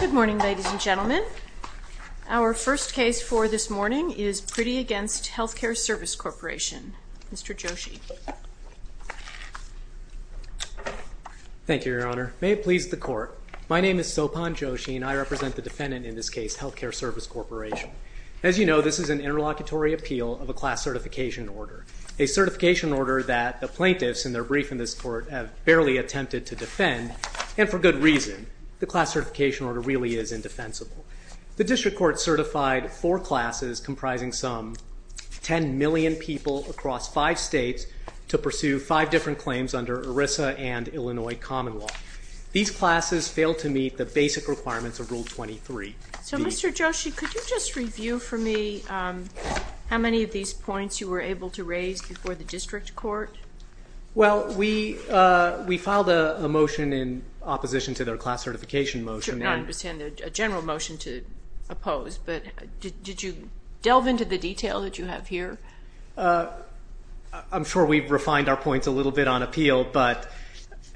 Good morning, ladies and gentlemen. Our first case for this morning is Priddy against Health Care Service Corporation. Mr. Joshi. Thank you, Your Honor. May it please the court. My name is Sophan Joshi and I represent the defendant in this case, Health Care Service Corporation. As you know, this is an interlocutory appeal of a class certification order. A certification order that the plaintiffs in their brief in this court have barely attempted to defend and for good reason. The class certification order really is indefensible. The district court certified four classes comprising some 10 million people across five states to pursue five different claims under ERISA and Illinois common law. These classes failed to meet the basic requirements of Rule 23. So Mr. Joshi, could you just review for me how many of these points you were able to raise before the class certification motion? I understand a general motion to oppose, but did you delve into the detail that you have here? I'm sure we've refined our points a little bit on appeal, but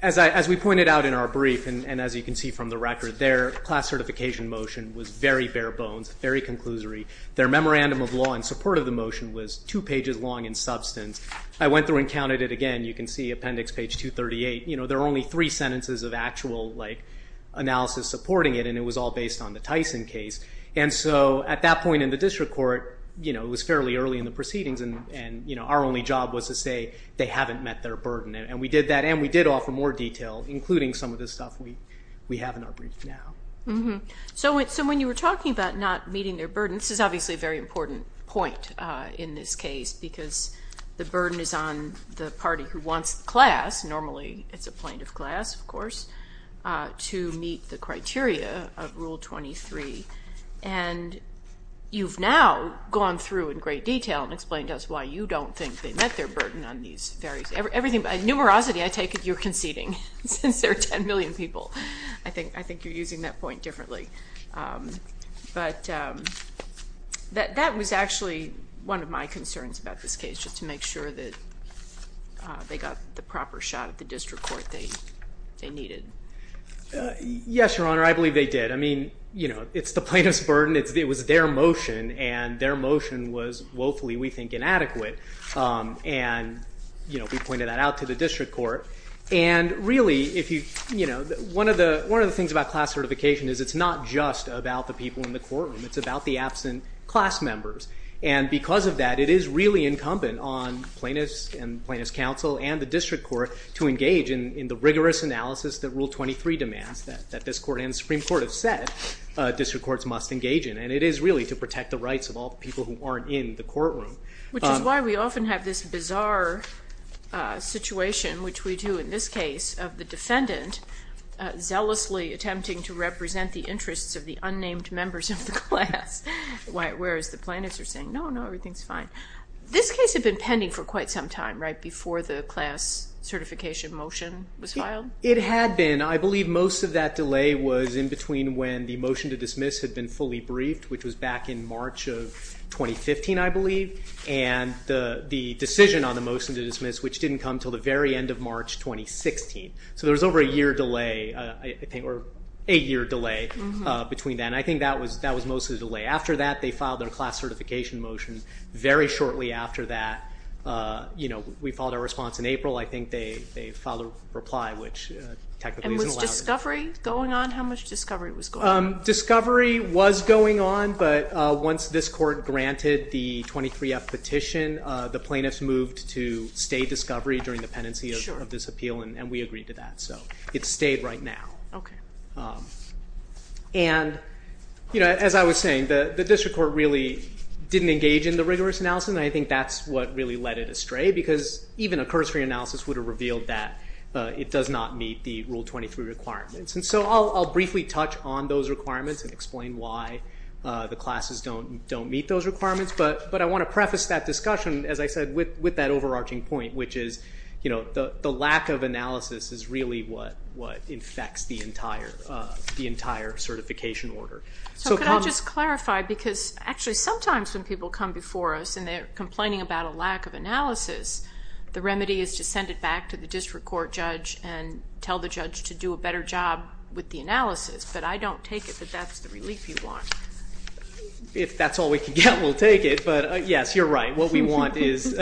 as we pointed out in our brief and as you can see from the record, their class certification motion was very bare-bones, very conclusory. Their memorandum of law in support of the motion was two pages long in substance. I went through and counted it again. You can see appendix page 238. You can see the analysis supporting it and it was all based on the Tyson case and so at that point in the district court, it was fairly early in the proceedings and our only job was to say they haven't met their burden and we did that and we did offer more detail including some of this stuff we have in our brief now. So when you were talking about not meeting their burden, this is obviously a very important point in this case because the burden is on the party who wants the class, normally it's a point of class of to meet the criteria of Rule 23 and you've now gone through in great detail and explained to us why you don't think they met their burden on these various everything by numerosity I take it you're conceding since there are 10 million people. I think you're using that point differently, but that was actually one of my concerns about this case just to make sure that they got the proper shot at the district court thing they needed. Yes your honor, I believe they did. I mean you know it's the plaintiff's burden, it was their motion and their motion was woefully we think inadequate and you know we pointed that out to the district court and really if you you know one of the one of the things about class certification is it's not just about the people in the courtroom, it's about the absent class members and because of that it is really incumbent on plaintiffs and plaintiff's counsel and the district court to engage in the rigorous analysis that Rule 23 demands that this court and the Supreme Court have said district courts must engage in and it is really to protect the rights of all people who aren't in the courtroom. Which is why we often have this bizarre situation which we do in this case of the defendant zealously attempting to represent the interests of the unnamed members of the plaintiffs are saying no no everything's fine. This case had been pending for quite some time right before the class certification motion was filed? It had been I believe most of that delay was in between when the motion to dismiss had been fully briefed which was back in March of 2015 I believe and the decision on the motion to dismiss which didn't come till the very end of March 2016 so there was over a year delay I think or a year delay between then I think that was mostly delay after that they filed their class certification motion very shortly after that you know we followed our response in April I think they filed a reply which technically isn't allowed. And was discovery going on? How much discovery was going on? Discovery was going on but once this court granted the 23 F petition the plaintiffs moved to stay discovery during the pendency of this appeal and we agreed to that so it stayed right now. And you know as I was saying the district court really didn't engage in the rigorous analysis and I think that's what really led it astray because even a cursory analysis would have revealed that it does not meet the rule 23 requirements and so I'll briefly touch on those requirements and explain why the classes don't don't meet those requirements but but I want to preface that discussion as I said with with that analysis is really what what infects the entire the entire certification order. So can I just clarify because actually sometimes when people come before us and they're complaining about a lack of analysis the remedy is to send it back to the district court judge and tell the judge to do a better job with the analysis but I don't take it that that's the relief you want. If that's all we can get we'll take it but yes you're right what we want is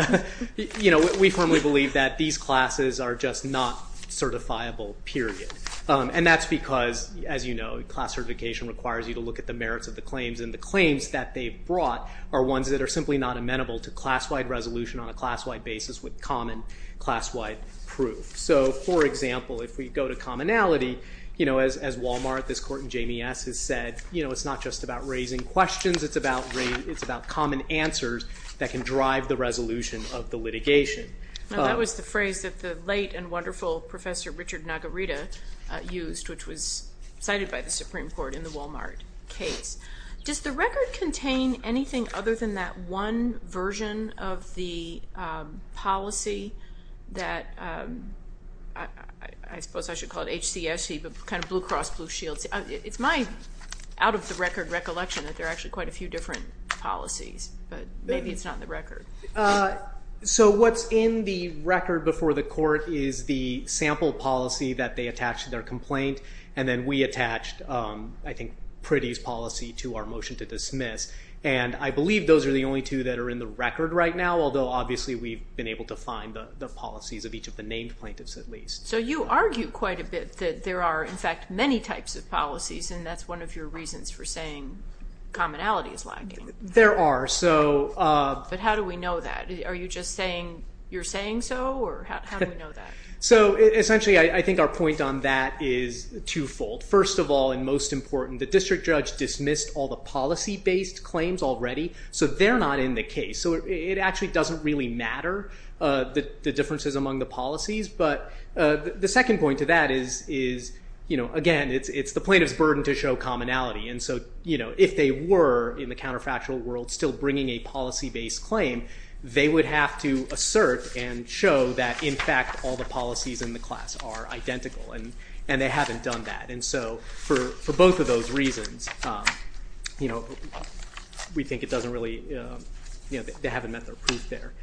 you know we firmly believe that these classes are just not certifiable period and that's because as you know class certification requires you to look at the merits of the claims and the claims that they've brought are ones that are simply not amenable to class-wide resolution on a class-wide basis with common class-wide proof. So for example if we go to commonality you know as Walmart this court in JMS has said you know it's not just about raising questions it's about it's about common answers that can drive the resolution of the litigation. That was the phrase that the late and wonderful professor Richard Nagarita used which was cited by the Supreme Court in the Walmart case. Does the record contain anything other than that one version of the policy that I suppose I should call it HCSC but kind of Blue Cross Blue Shields it's my out-of-the-record recollection that they're actually quite a few different policies but maybe it's not in the record. So what's in the record before the court is the sample policy that they attach to their complaint and then we attached I think Priddy's policy to our motion to dismiss and I believe those are the only two that are in the record right now although obviously we've been able to find the policies of each of the named plaintiffs at least. So you argue quite a bit that there are in fact many types of policies and that's one of your reasons for saying commonality is lacking. There are so. But how do we know that? Are you just saying you're saying so or how do we know that? So essentially I think our point on that is twofold. First of all and most important the district judge dismissed all the policy based claims already so they're not in the case so it actually doesn't really matter the differences among the policies but the second point to that is you know again it's the plaintiff's burden to show commonality and so you know if they were in the counterfactual world still bringing a policy based claim they would have to assert and show that in fact all the policies in the class are identical and and they haven't done that and so for both of those reasons you know we think it doesn't really you know they haven't met their proof there.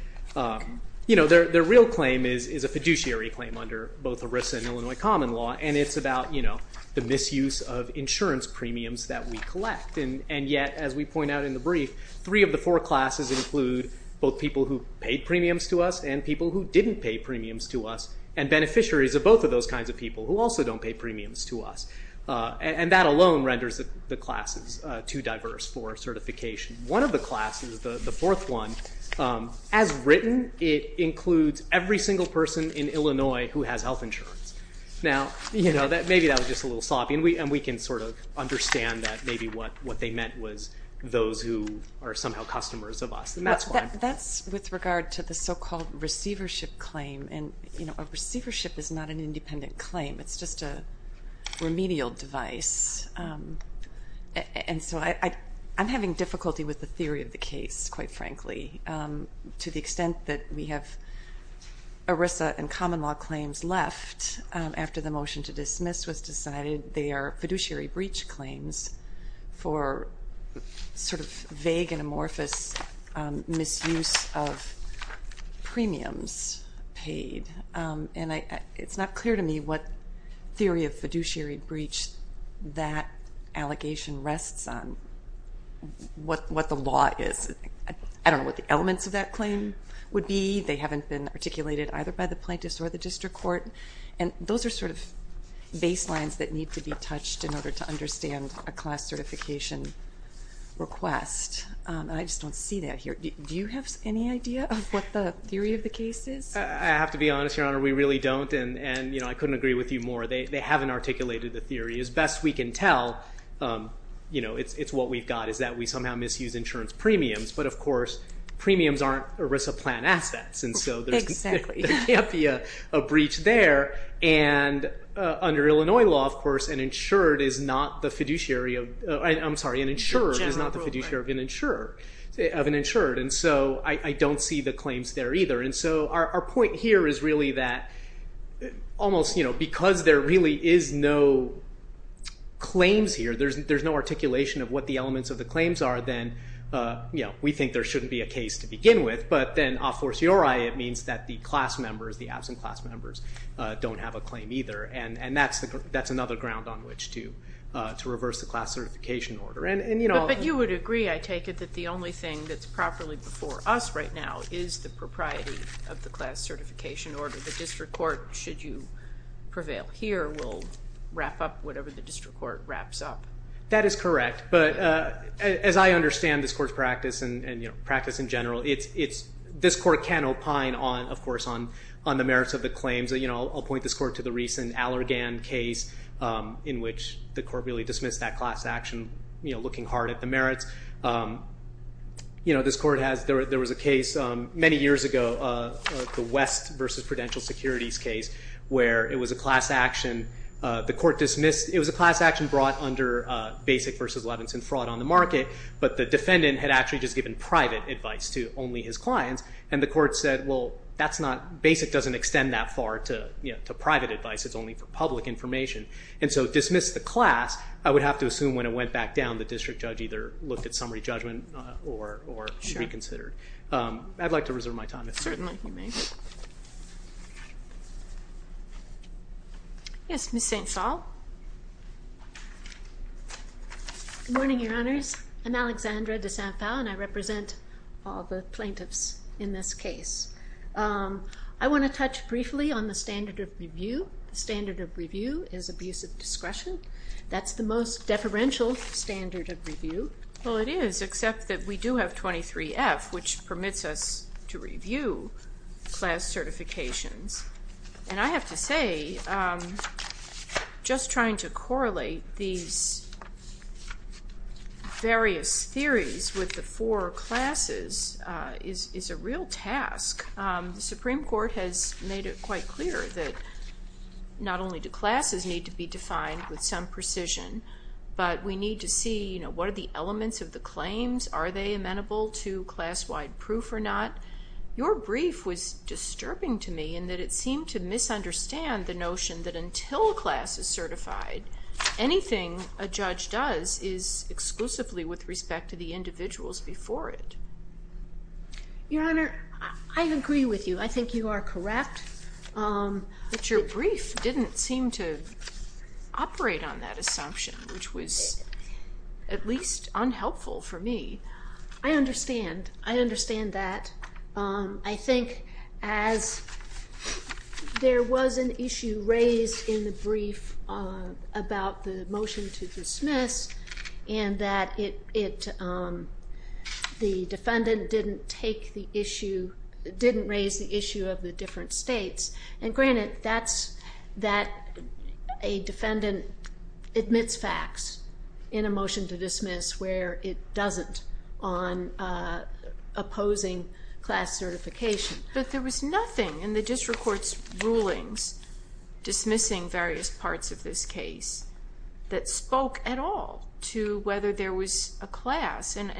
You know their real claim is a fiduciary claim under both ERISA and Illinois common law and it's about you know the misuse of those premiums that we collect and and yet as we point out in the brief three of the four classes include both people who paid premiums to us and people who didn't pay premiums to us and beneficiaries of both of those kinds of people who also don't pay premiums to us and that alone renders the classes too diverse for certification. One of the classes, the fourth one, as written it includes every single person in Illinois who has health insurance. Now you know maybe that was just a little sloppy and we and we can sort of understand that maybe what what they meant was those who are somehow customers of us and that's fine. That's with regard to the so-called receivership claim and you know a receivership is not an independent claim it's just a remedial device and so I I'm having difficulty with the theory of the case quite frankly to the extent that we have ERISA and common law claims left after the motion to dismiss was decided they are fiduciary breach claims for sort of vague and amorphous misuse of premiums paid and I it's not clear to me what theory of fiduciary breach that allegation rests on what what the law is. I don't know what the elements of that claim would be they haven't been articulated either by the plaintiffs or the district court and those are sort of baselines that need to be touched in order to understand a class certification request. I just don't see that here do you have any idea of what the theory of the case is? I have to be honest your honor we really don't and and you know I couldn't agree with you more they haven't articulated the theory as best we can tell you know it's it's what we've got is that we somehow misuse insurance premiums but of course premiums aren't ERISA plan assets and so there can't be a breach there and under Illinois law of course and insured is not the fiduciary of I'm sorry an insurer is not the fiduciary of an insurer of an insured and so I don't see the claims there either and so our point here is really that almost you know because there really is no claims here there's there's no articulation of what the elements of the claims are then you know we think there shouldn't be a case to begin with but then of course your I it means that the class members the absent class members don't have a claim either and and that's the that's another ground on which to to reverse the class certification order and you know. But you would agree I take it that the only thing that's properly before us right now is the propriety of the class certification order the district court should you prevail here will wrap up whatever the district court wraps up. That is correct but as I understand this court's practice and you know practice in general it's it's this court can opine on of course on on the merits of the claims that you know I'll point this court to the recent Allergan case in which the court really dismissed that class action you know looking hard at the merits you know this court has there was a case many years ago the West versus Prudential Securities case where it was a class action the court dismissed it was a class action brought under basic versus Levinson fraud on the market but the defendant had actually just given private advice to only his clients and the court said well that's not basic doesn't extend that far to you know to private advice it's only for public information and so dismiss the class I would have to assume when it went back down the district judge either looked at summary judgment or reconsidered. I'd like to reserve my time. Certainly. Yes Miss St. Saul. Good morning your honors I'm Alexandra de St. Paul and I represent all the plaintiffs in this case. I want to touch briefly on the standard of review. The standard of review is abuse of discretion that's the most deferential standard of review. Well it is except that we do have 23 F which permits us to review class certifications and I have to say just trying to correlate these various theories with the four classes is is a real task. The Supreme Court has made it quite clear that not only do classes need to be defined with some precision but we need to see you are they amenable to class-wide proof or not. Your brief was disturbing to me and that it seemed to misunderstand the notion that until class is certified anything a judge does is exclusively with respect to the individuals before it. Your honor I agree with you I think you are correct. But your brief didn't seem to operate on that assumption which was at least unhelpful for me. I understand I understand that. I think as there was an issue raised in the brief about the motion to dismiss and that it it the defendant didn't take the issue didn't raise the issue of the different states and granted that's that a defendant admits facts in a motion to dismiss where it doesn't on opposing class certification. But there was nothing in the district court's rulings dismissing various parts of this case that spoke at all to whether there was a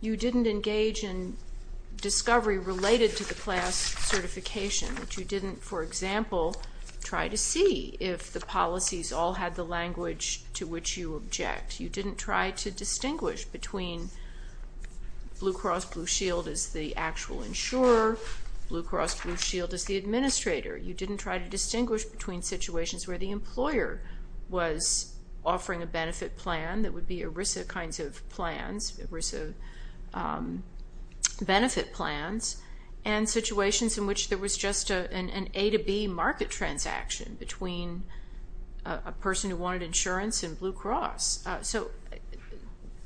you didn't engage in discovery related to the class certification. You didn't for example try to see if the policies all had the language to which you object. You didn't try to distinguish between Blue Cross Blue Shield is the actual insurer, Blue Cross Blue Shield is the administrator. You didn't try to distinguish between situations where the employer was offering a benefit plan that would be ERISA kinds of plans, ERISA benefit plans and situations in which there was just an A to B market transaction between a person who wanted insurance and Blue Cross. So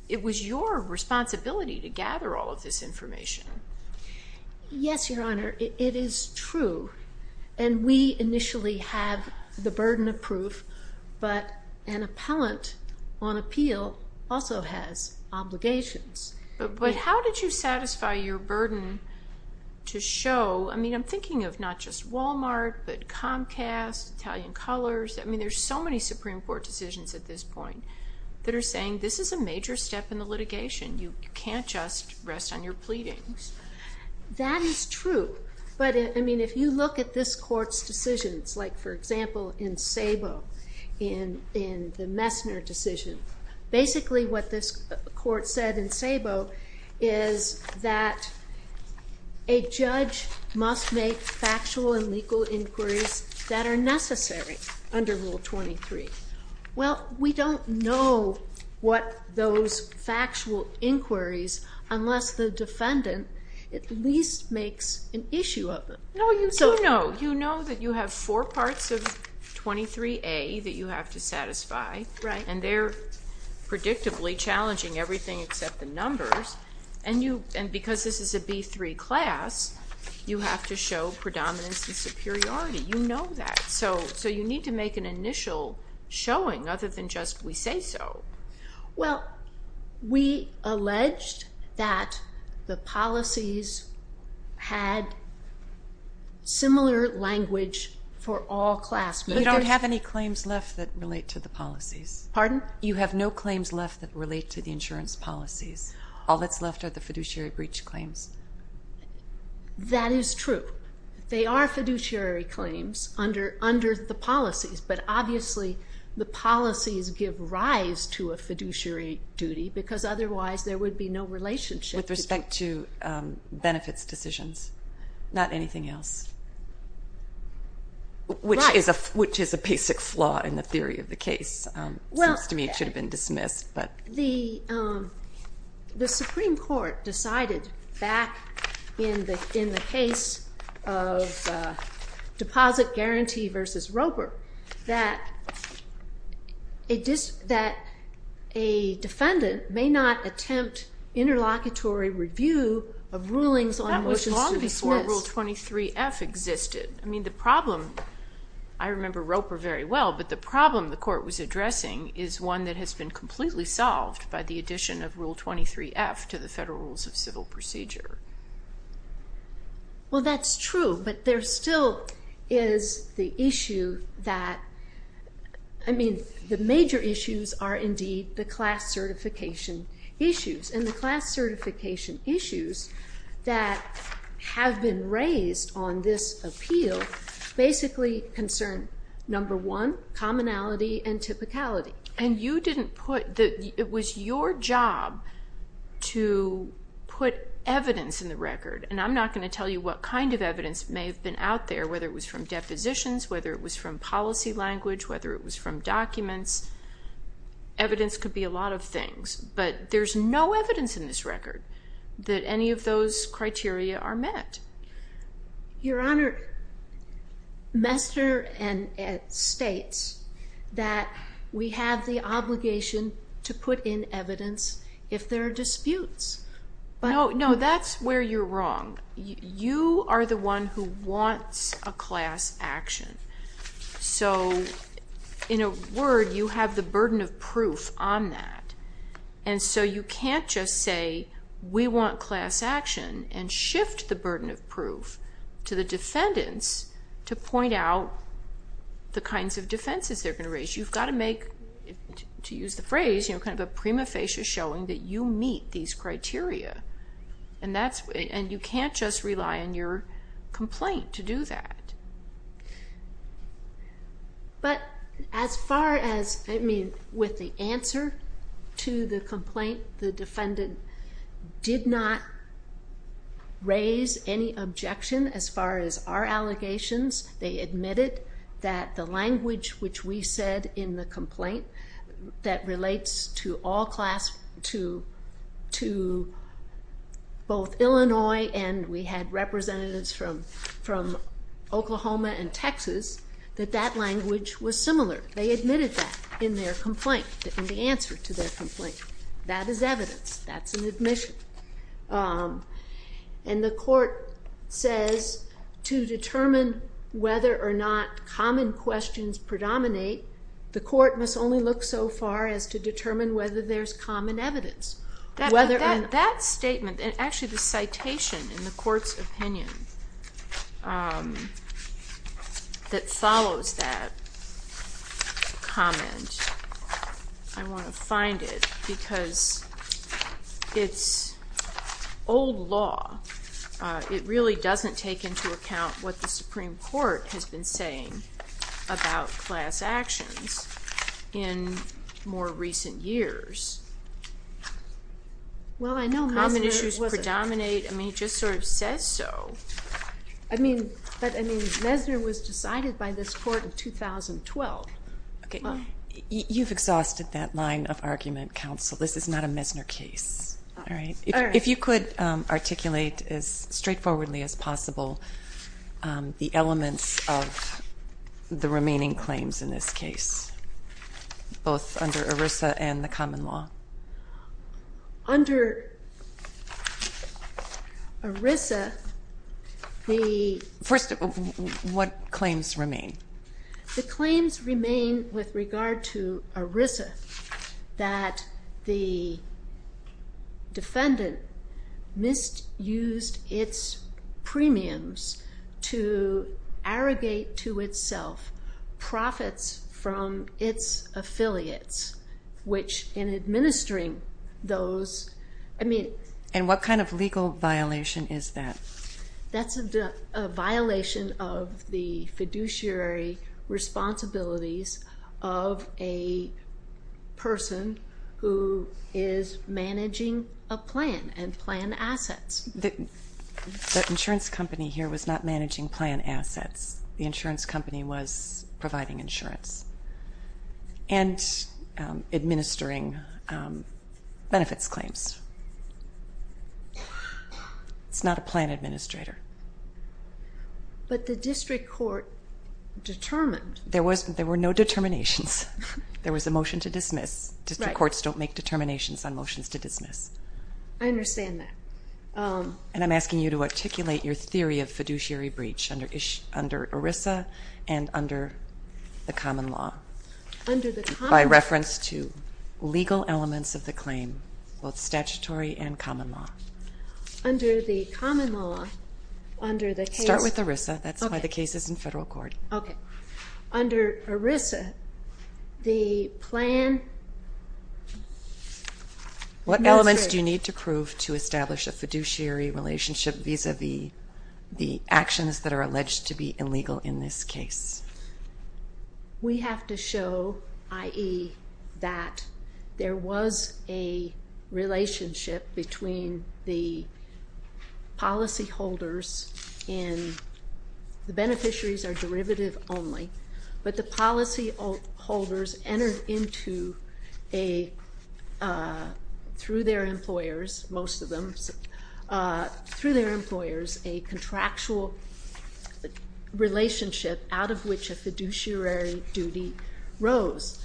it was your responsibility to gather all of this information. Yes your honor it is true and we initially have the burden of appeal also has obligations. But how did you satisfy your burden to show I mean I'm thinking of not just Walmart but Comcast, Italian Colors, I mean there's so many Supreme Court decisions at this point that are saying this is a major step in the litigation you can't just rest on your pleadings. That is true but I mean if you look at this court's decisions like for example in SABO in the Messner decision basically what this court said in SABO is that a judge must make factual and legal inquiries that are necessary under Rule 23. Well we don't know what those factual inquiries unless the defendant at least makes an issue of them. No you do know, you know that you have four parts of 23A that you have to satisfy right and they're predictably challenging everything except the numbers and you and because this is a B3 class you have to show predominance and superiority you know that so so you need to make an initial showing other than just we say so. Well we alleged that the policies had similar language for all class. We don't have any claims left that relate to the policies. Pardon? You have no claims left that relate to the insurance policies all that's left are the fiduciary breach claims. That is true they are fiduciary claims under under the policies but obviously the policies give rise to a fiduciary duty because otherwise there would be no relationship. With respect to which is a which is a basic flaw in the theory of the case. Well to me it should have been dismissed but the the Supreme Court decided back in the in the case of deposit guarantee versus Roper that it just that a defendant may not attempt interlocutory review of rulings on motions to dismiss. That was long before Rule 23F existed. I mean the problem I remember Roper very well but the problem the court was addressing is one that has been completely solved by the addition of Rule 23F to the Federal Rules of Civil Procedure. Well that's true but there still is the issue that I mean the major issues are indeed the class certification issues that have been raised on this appeal basically concern number one commonality and typicality. And you didn't put that it was your job to put evidence in the record and I'm not going to tell you what kind of evidence may have been out there whether it was from depositions whether it was from policy language whether it was from documents evidence could be a lot of things but there's no evidence in this record that any of those criteria are met. Your Honor Mester and it states that we have the obligation to put in evidence if there are disputes. No no that's where you're wrong you are the one who wants a class action so in a word you have the burden of proof on that and so you can't just say we want class action and shift the burden of proof to the defendants to point out the kinds of defenses they're going to raise. You've got to make to use the phrase you know kind of a prima facie showing that you meet these criteria and that's and you can't just rely on your complaint to do that. But as far as I mean with the answer to the complaint the defendant did not raise any objection as far as our allegations they admitted that the language which we said in the complaint that relates to both Illinois and we had representatives from from Oklahoma and Texas that that language was similar they admitted that in their complaint in the answer to their complaint that is evidence that's an admission and the court says to determine whether or not common questions predominate the court must only look so far as to determine whether there's common evidence whether and that statement and actually the citation in the court's opinion that follows that comment I want to find it because it's old law it really doesn't take into account what the Supreme Court has been saying about class actions in more recent years. Well I know common issues predominate I mean just sort of says so. I mean but I mean Messner was decided by this court of 2012. Okay you've exhausted that line of argument counsel this is not a Messner case. All right if you could articulate as straightforwardly as possible the elements of the remaining claims in this case both under ERISA and the common law. Under ERISA the first of what claims remain? The claims remain with regard to defendant misused its premiums to arrogate to itself profits from its affiliates which in administering those I mean. And what kind of legal violation is that? That's a violation of the fiduciary responsibilities of a person who is managing a plan and plan assets. The insurance company here was not managing plan assets the insurance company was providing insurance and administering benefits claims. It's not a plan administrator. But the district court determined. There was there were no determinations there was a motion to district courts don't make determinations on motions to dismiss. I understand that. And I'm asking you to articulate your theory of fiduciary breach under ERISA and under the common law. By reference to legal elements of the claim both statutory and common law. Under the common law. Start with ERISA that's why the case is in federal court. Under ERISA the plan. What elements do you need to prove to establish a fiduciary relationship vis-a-vis the actions that are alleged to be illegal in this case? We have to show i.e. that there was a beneficiaries are derivative only but the policy holders entered into a through their employers most of them through their employers a contractual relationship out of which a fiduciary duty rose.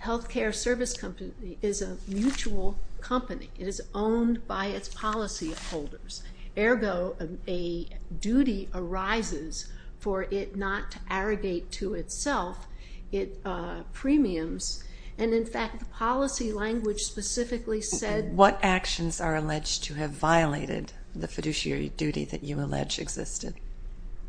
Healthcare service company is a mutual company. It is owned by its policy holders ergo a duty arises for it not to arrogate to itself it premiums and in fact policy language specifically said. What actions are alleged to have violated the fiduciary duty that you allege existed?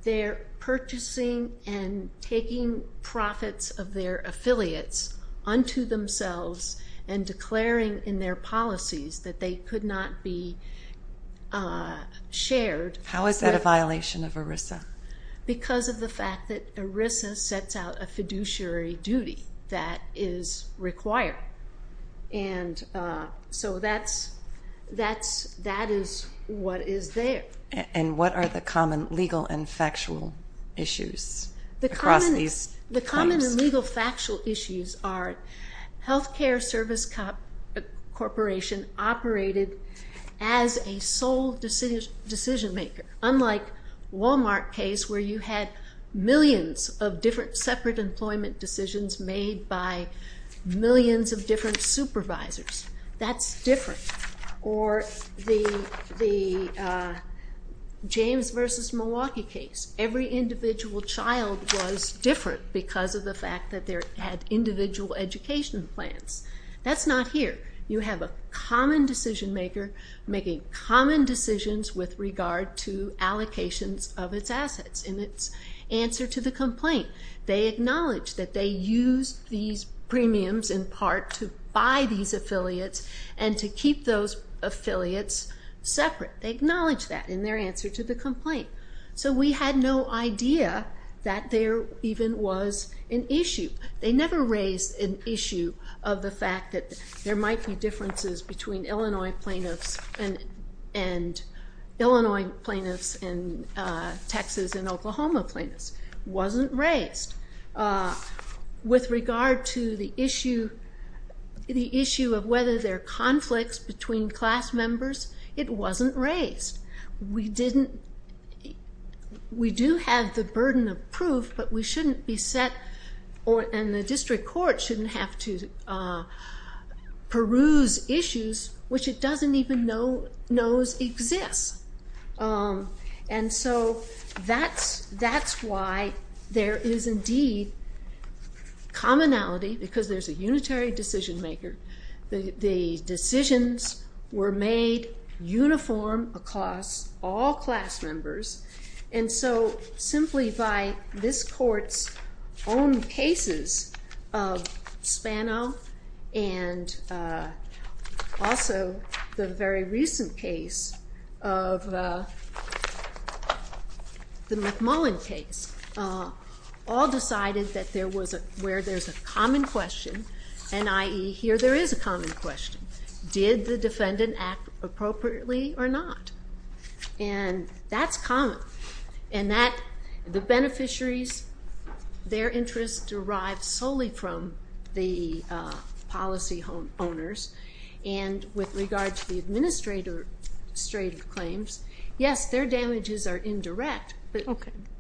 They're purchasing and taking profits of their affiliates unto themselves and declaring in their policies that they could not be shared. How is that a violation of ERISA? Because of the fact that ERISA sets out a fiduciary duty that is required and so that's that's that is what is there. And what are the common legal and factual issues? The common legal factual issues are healthcare service corporation operated as a sole decision maker unlike Walmart case where you had millions of different separate employment decisions made by millions of different supervisors. That's different or the James versus Milwaukee case. Every individual child was different because of the fact that there had individual education plans. That's not here. You have a common decision maker making common decisions with regard to allocations of its assets in its answer to the complaint. They acknowledge that they use these premiums in part to buy these affiliates and to keep those affiliates separate. They acknowledge that in their answer to the complaint. So we had no idea that there even was an issue. They never raised an issue of the fact that there might be differences between Illinois plaintiffs and Illinois plaintiffs and Texas and Oklahoma plaintiffs. Wasn't raised. With regard to the issue of whether there are conflicts between class members, it wasn't raised. We do have the burden of proof but we shouldn't be set and the district court shouldn't have to peruse issues which it doesn't even know exists. And so that's why there is indeed commonality because there's a unitary decision maker. The decisions were made uniform across all class members and so simply by this court's own cases of Spano and also the very recent case of the McMullen case all decided that there was where there's a common question and i.e. here there is a common question. Did the defendant act appropriately or not? And that's common and that the beneficiaries their interests derived solely from the policy home owners and with regard to the administrator straight claims, yes their damages are indirect but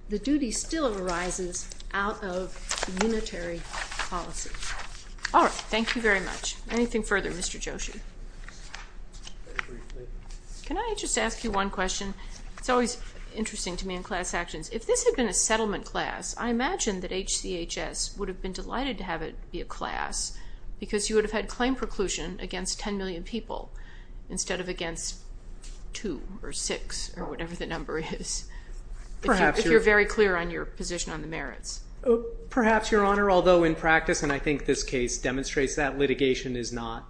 the duty still arises out of unitary policy. All right, thank you very much. Anything further Mr. Joshi? Can I just ask you one question? It's always interesting to me in class actions. If this had been a settlement class, I imagine that HCHS would have been delighted to have it be a class because you would have had claim preclusion against 10 million people instead of against two or six or something like that. But you've been very clear on your position on the merits. Perhaps, Your Honor, although in practice and I think this case demonstrates that litigation is not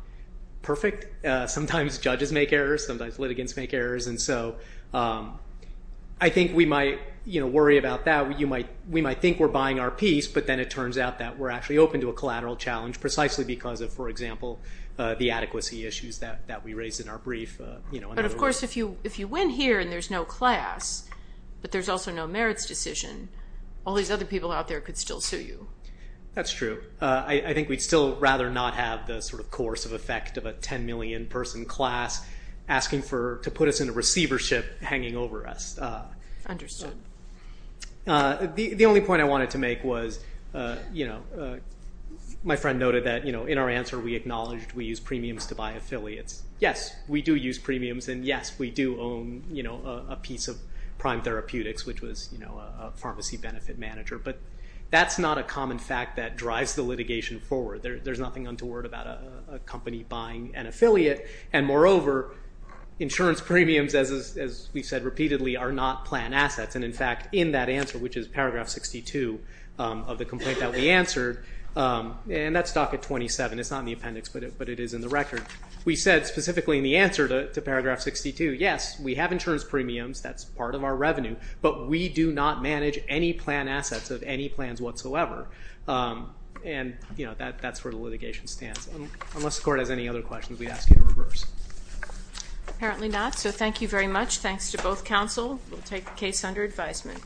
perfect. Sometimes judges make errors, sometimes litigants make errors and so I think we might worry about that. We might think we're buying our piece but then it turns out that we're actually open to a collateral challenge precisely because of, for example, the adequacy issues that that we raised in our brief. But of course if you win here and there's no class but there's also no merits decision, all these other people out there could still sue you. That's true. I think we'd still rather not have the sort of course of effect of a 10 million person class asking to put us in a receivership hanging over us. Understood. The only point I wanted to make was, you know, my friend noted that, you know, in our answer we acknowledged we use premiums to buy affiliates. Yes, we do use premiums and yes, we do own, you know, a piece of Prime Therapeutics which was, you know, a pharmacy benefit manager but that's not a common fact that drives the litigation forward. There's nothing untoward about a company buying an affiliate and moreover insurance premiums, as we've said repeatedly, are not plan assets and in fact in that answer, which is paragraph 62 of the complaint that we answered, and that's docket 27, it's not in the appendix but it is in the paragraph 62. Yes, we have insurance premiums, that's part of our revenue, but we do not manage any plan assets of any plans whatsoever and, you know, that's where the litigation stands. Unless the court has any other questions, we'd ask you to reverse. Apparently not, so thank you very much. Thanks to both counsel. We'll take the case under advisement.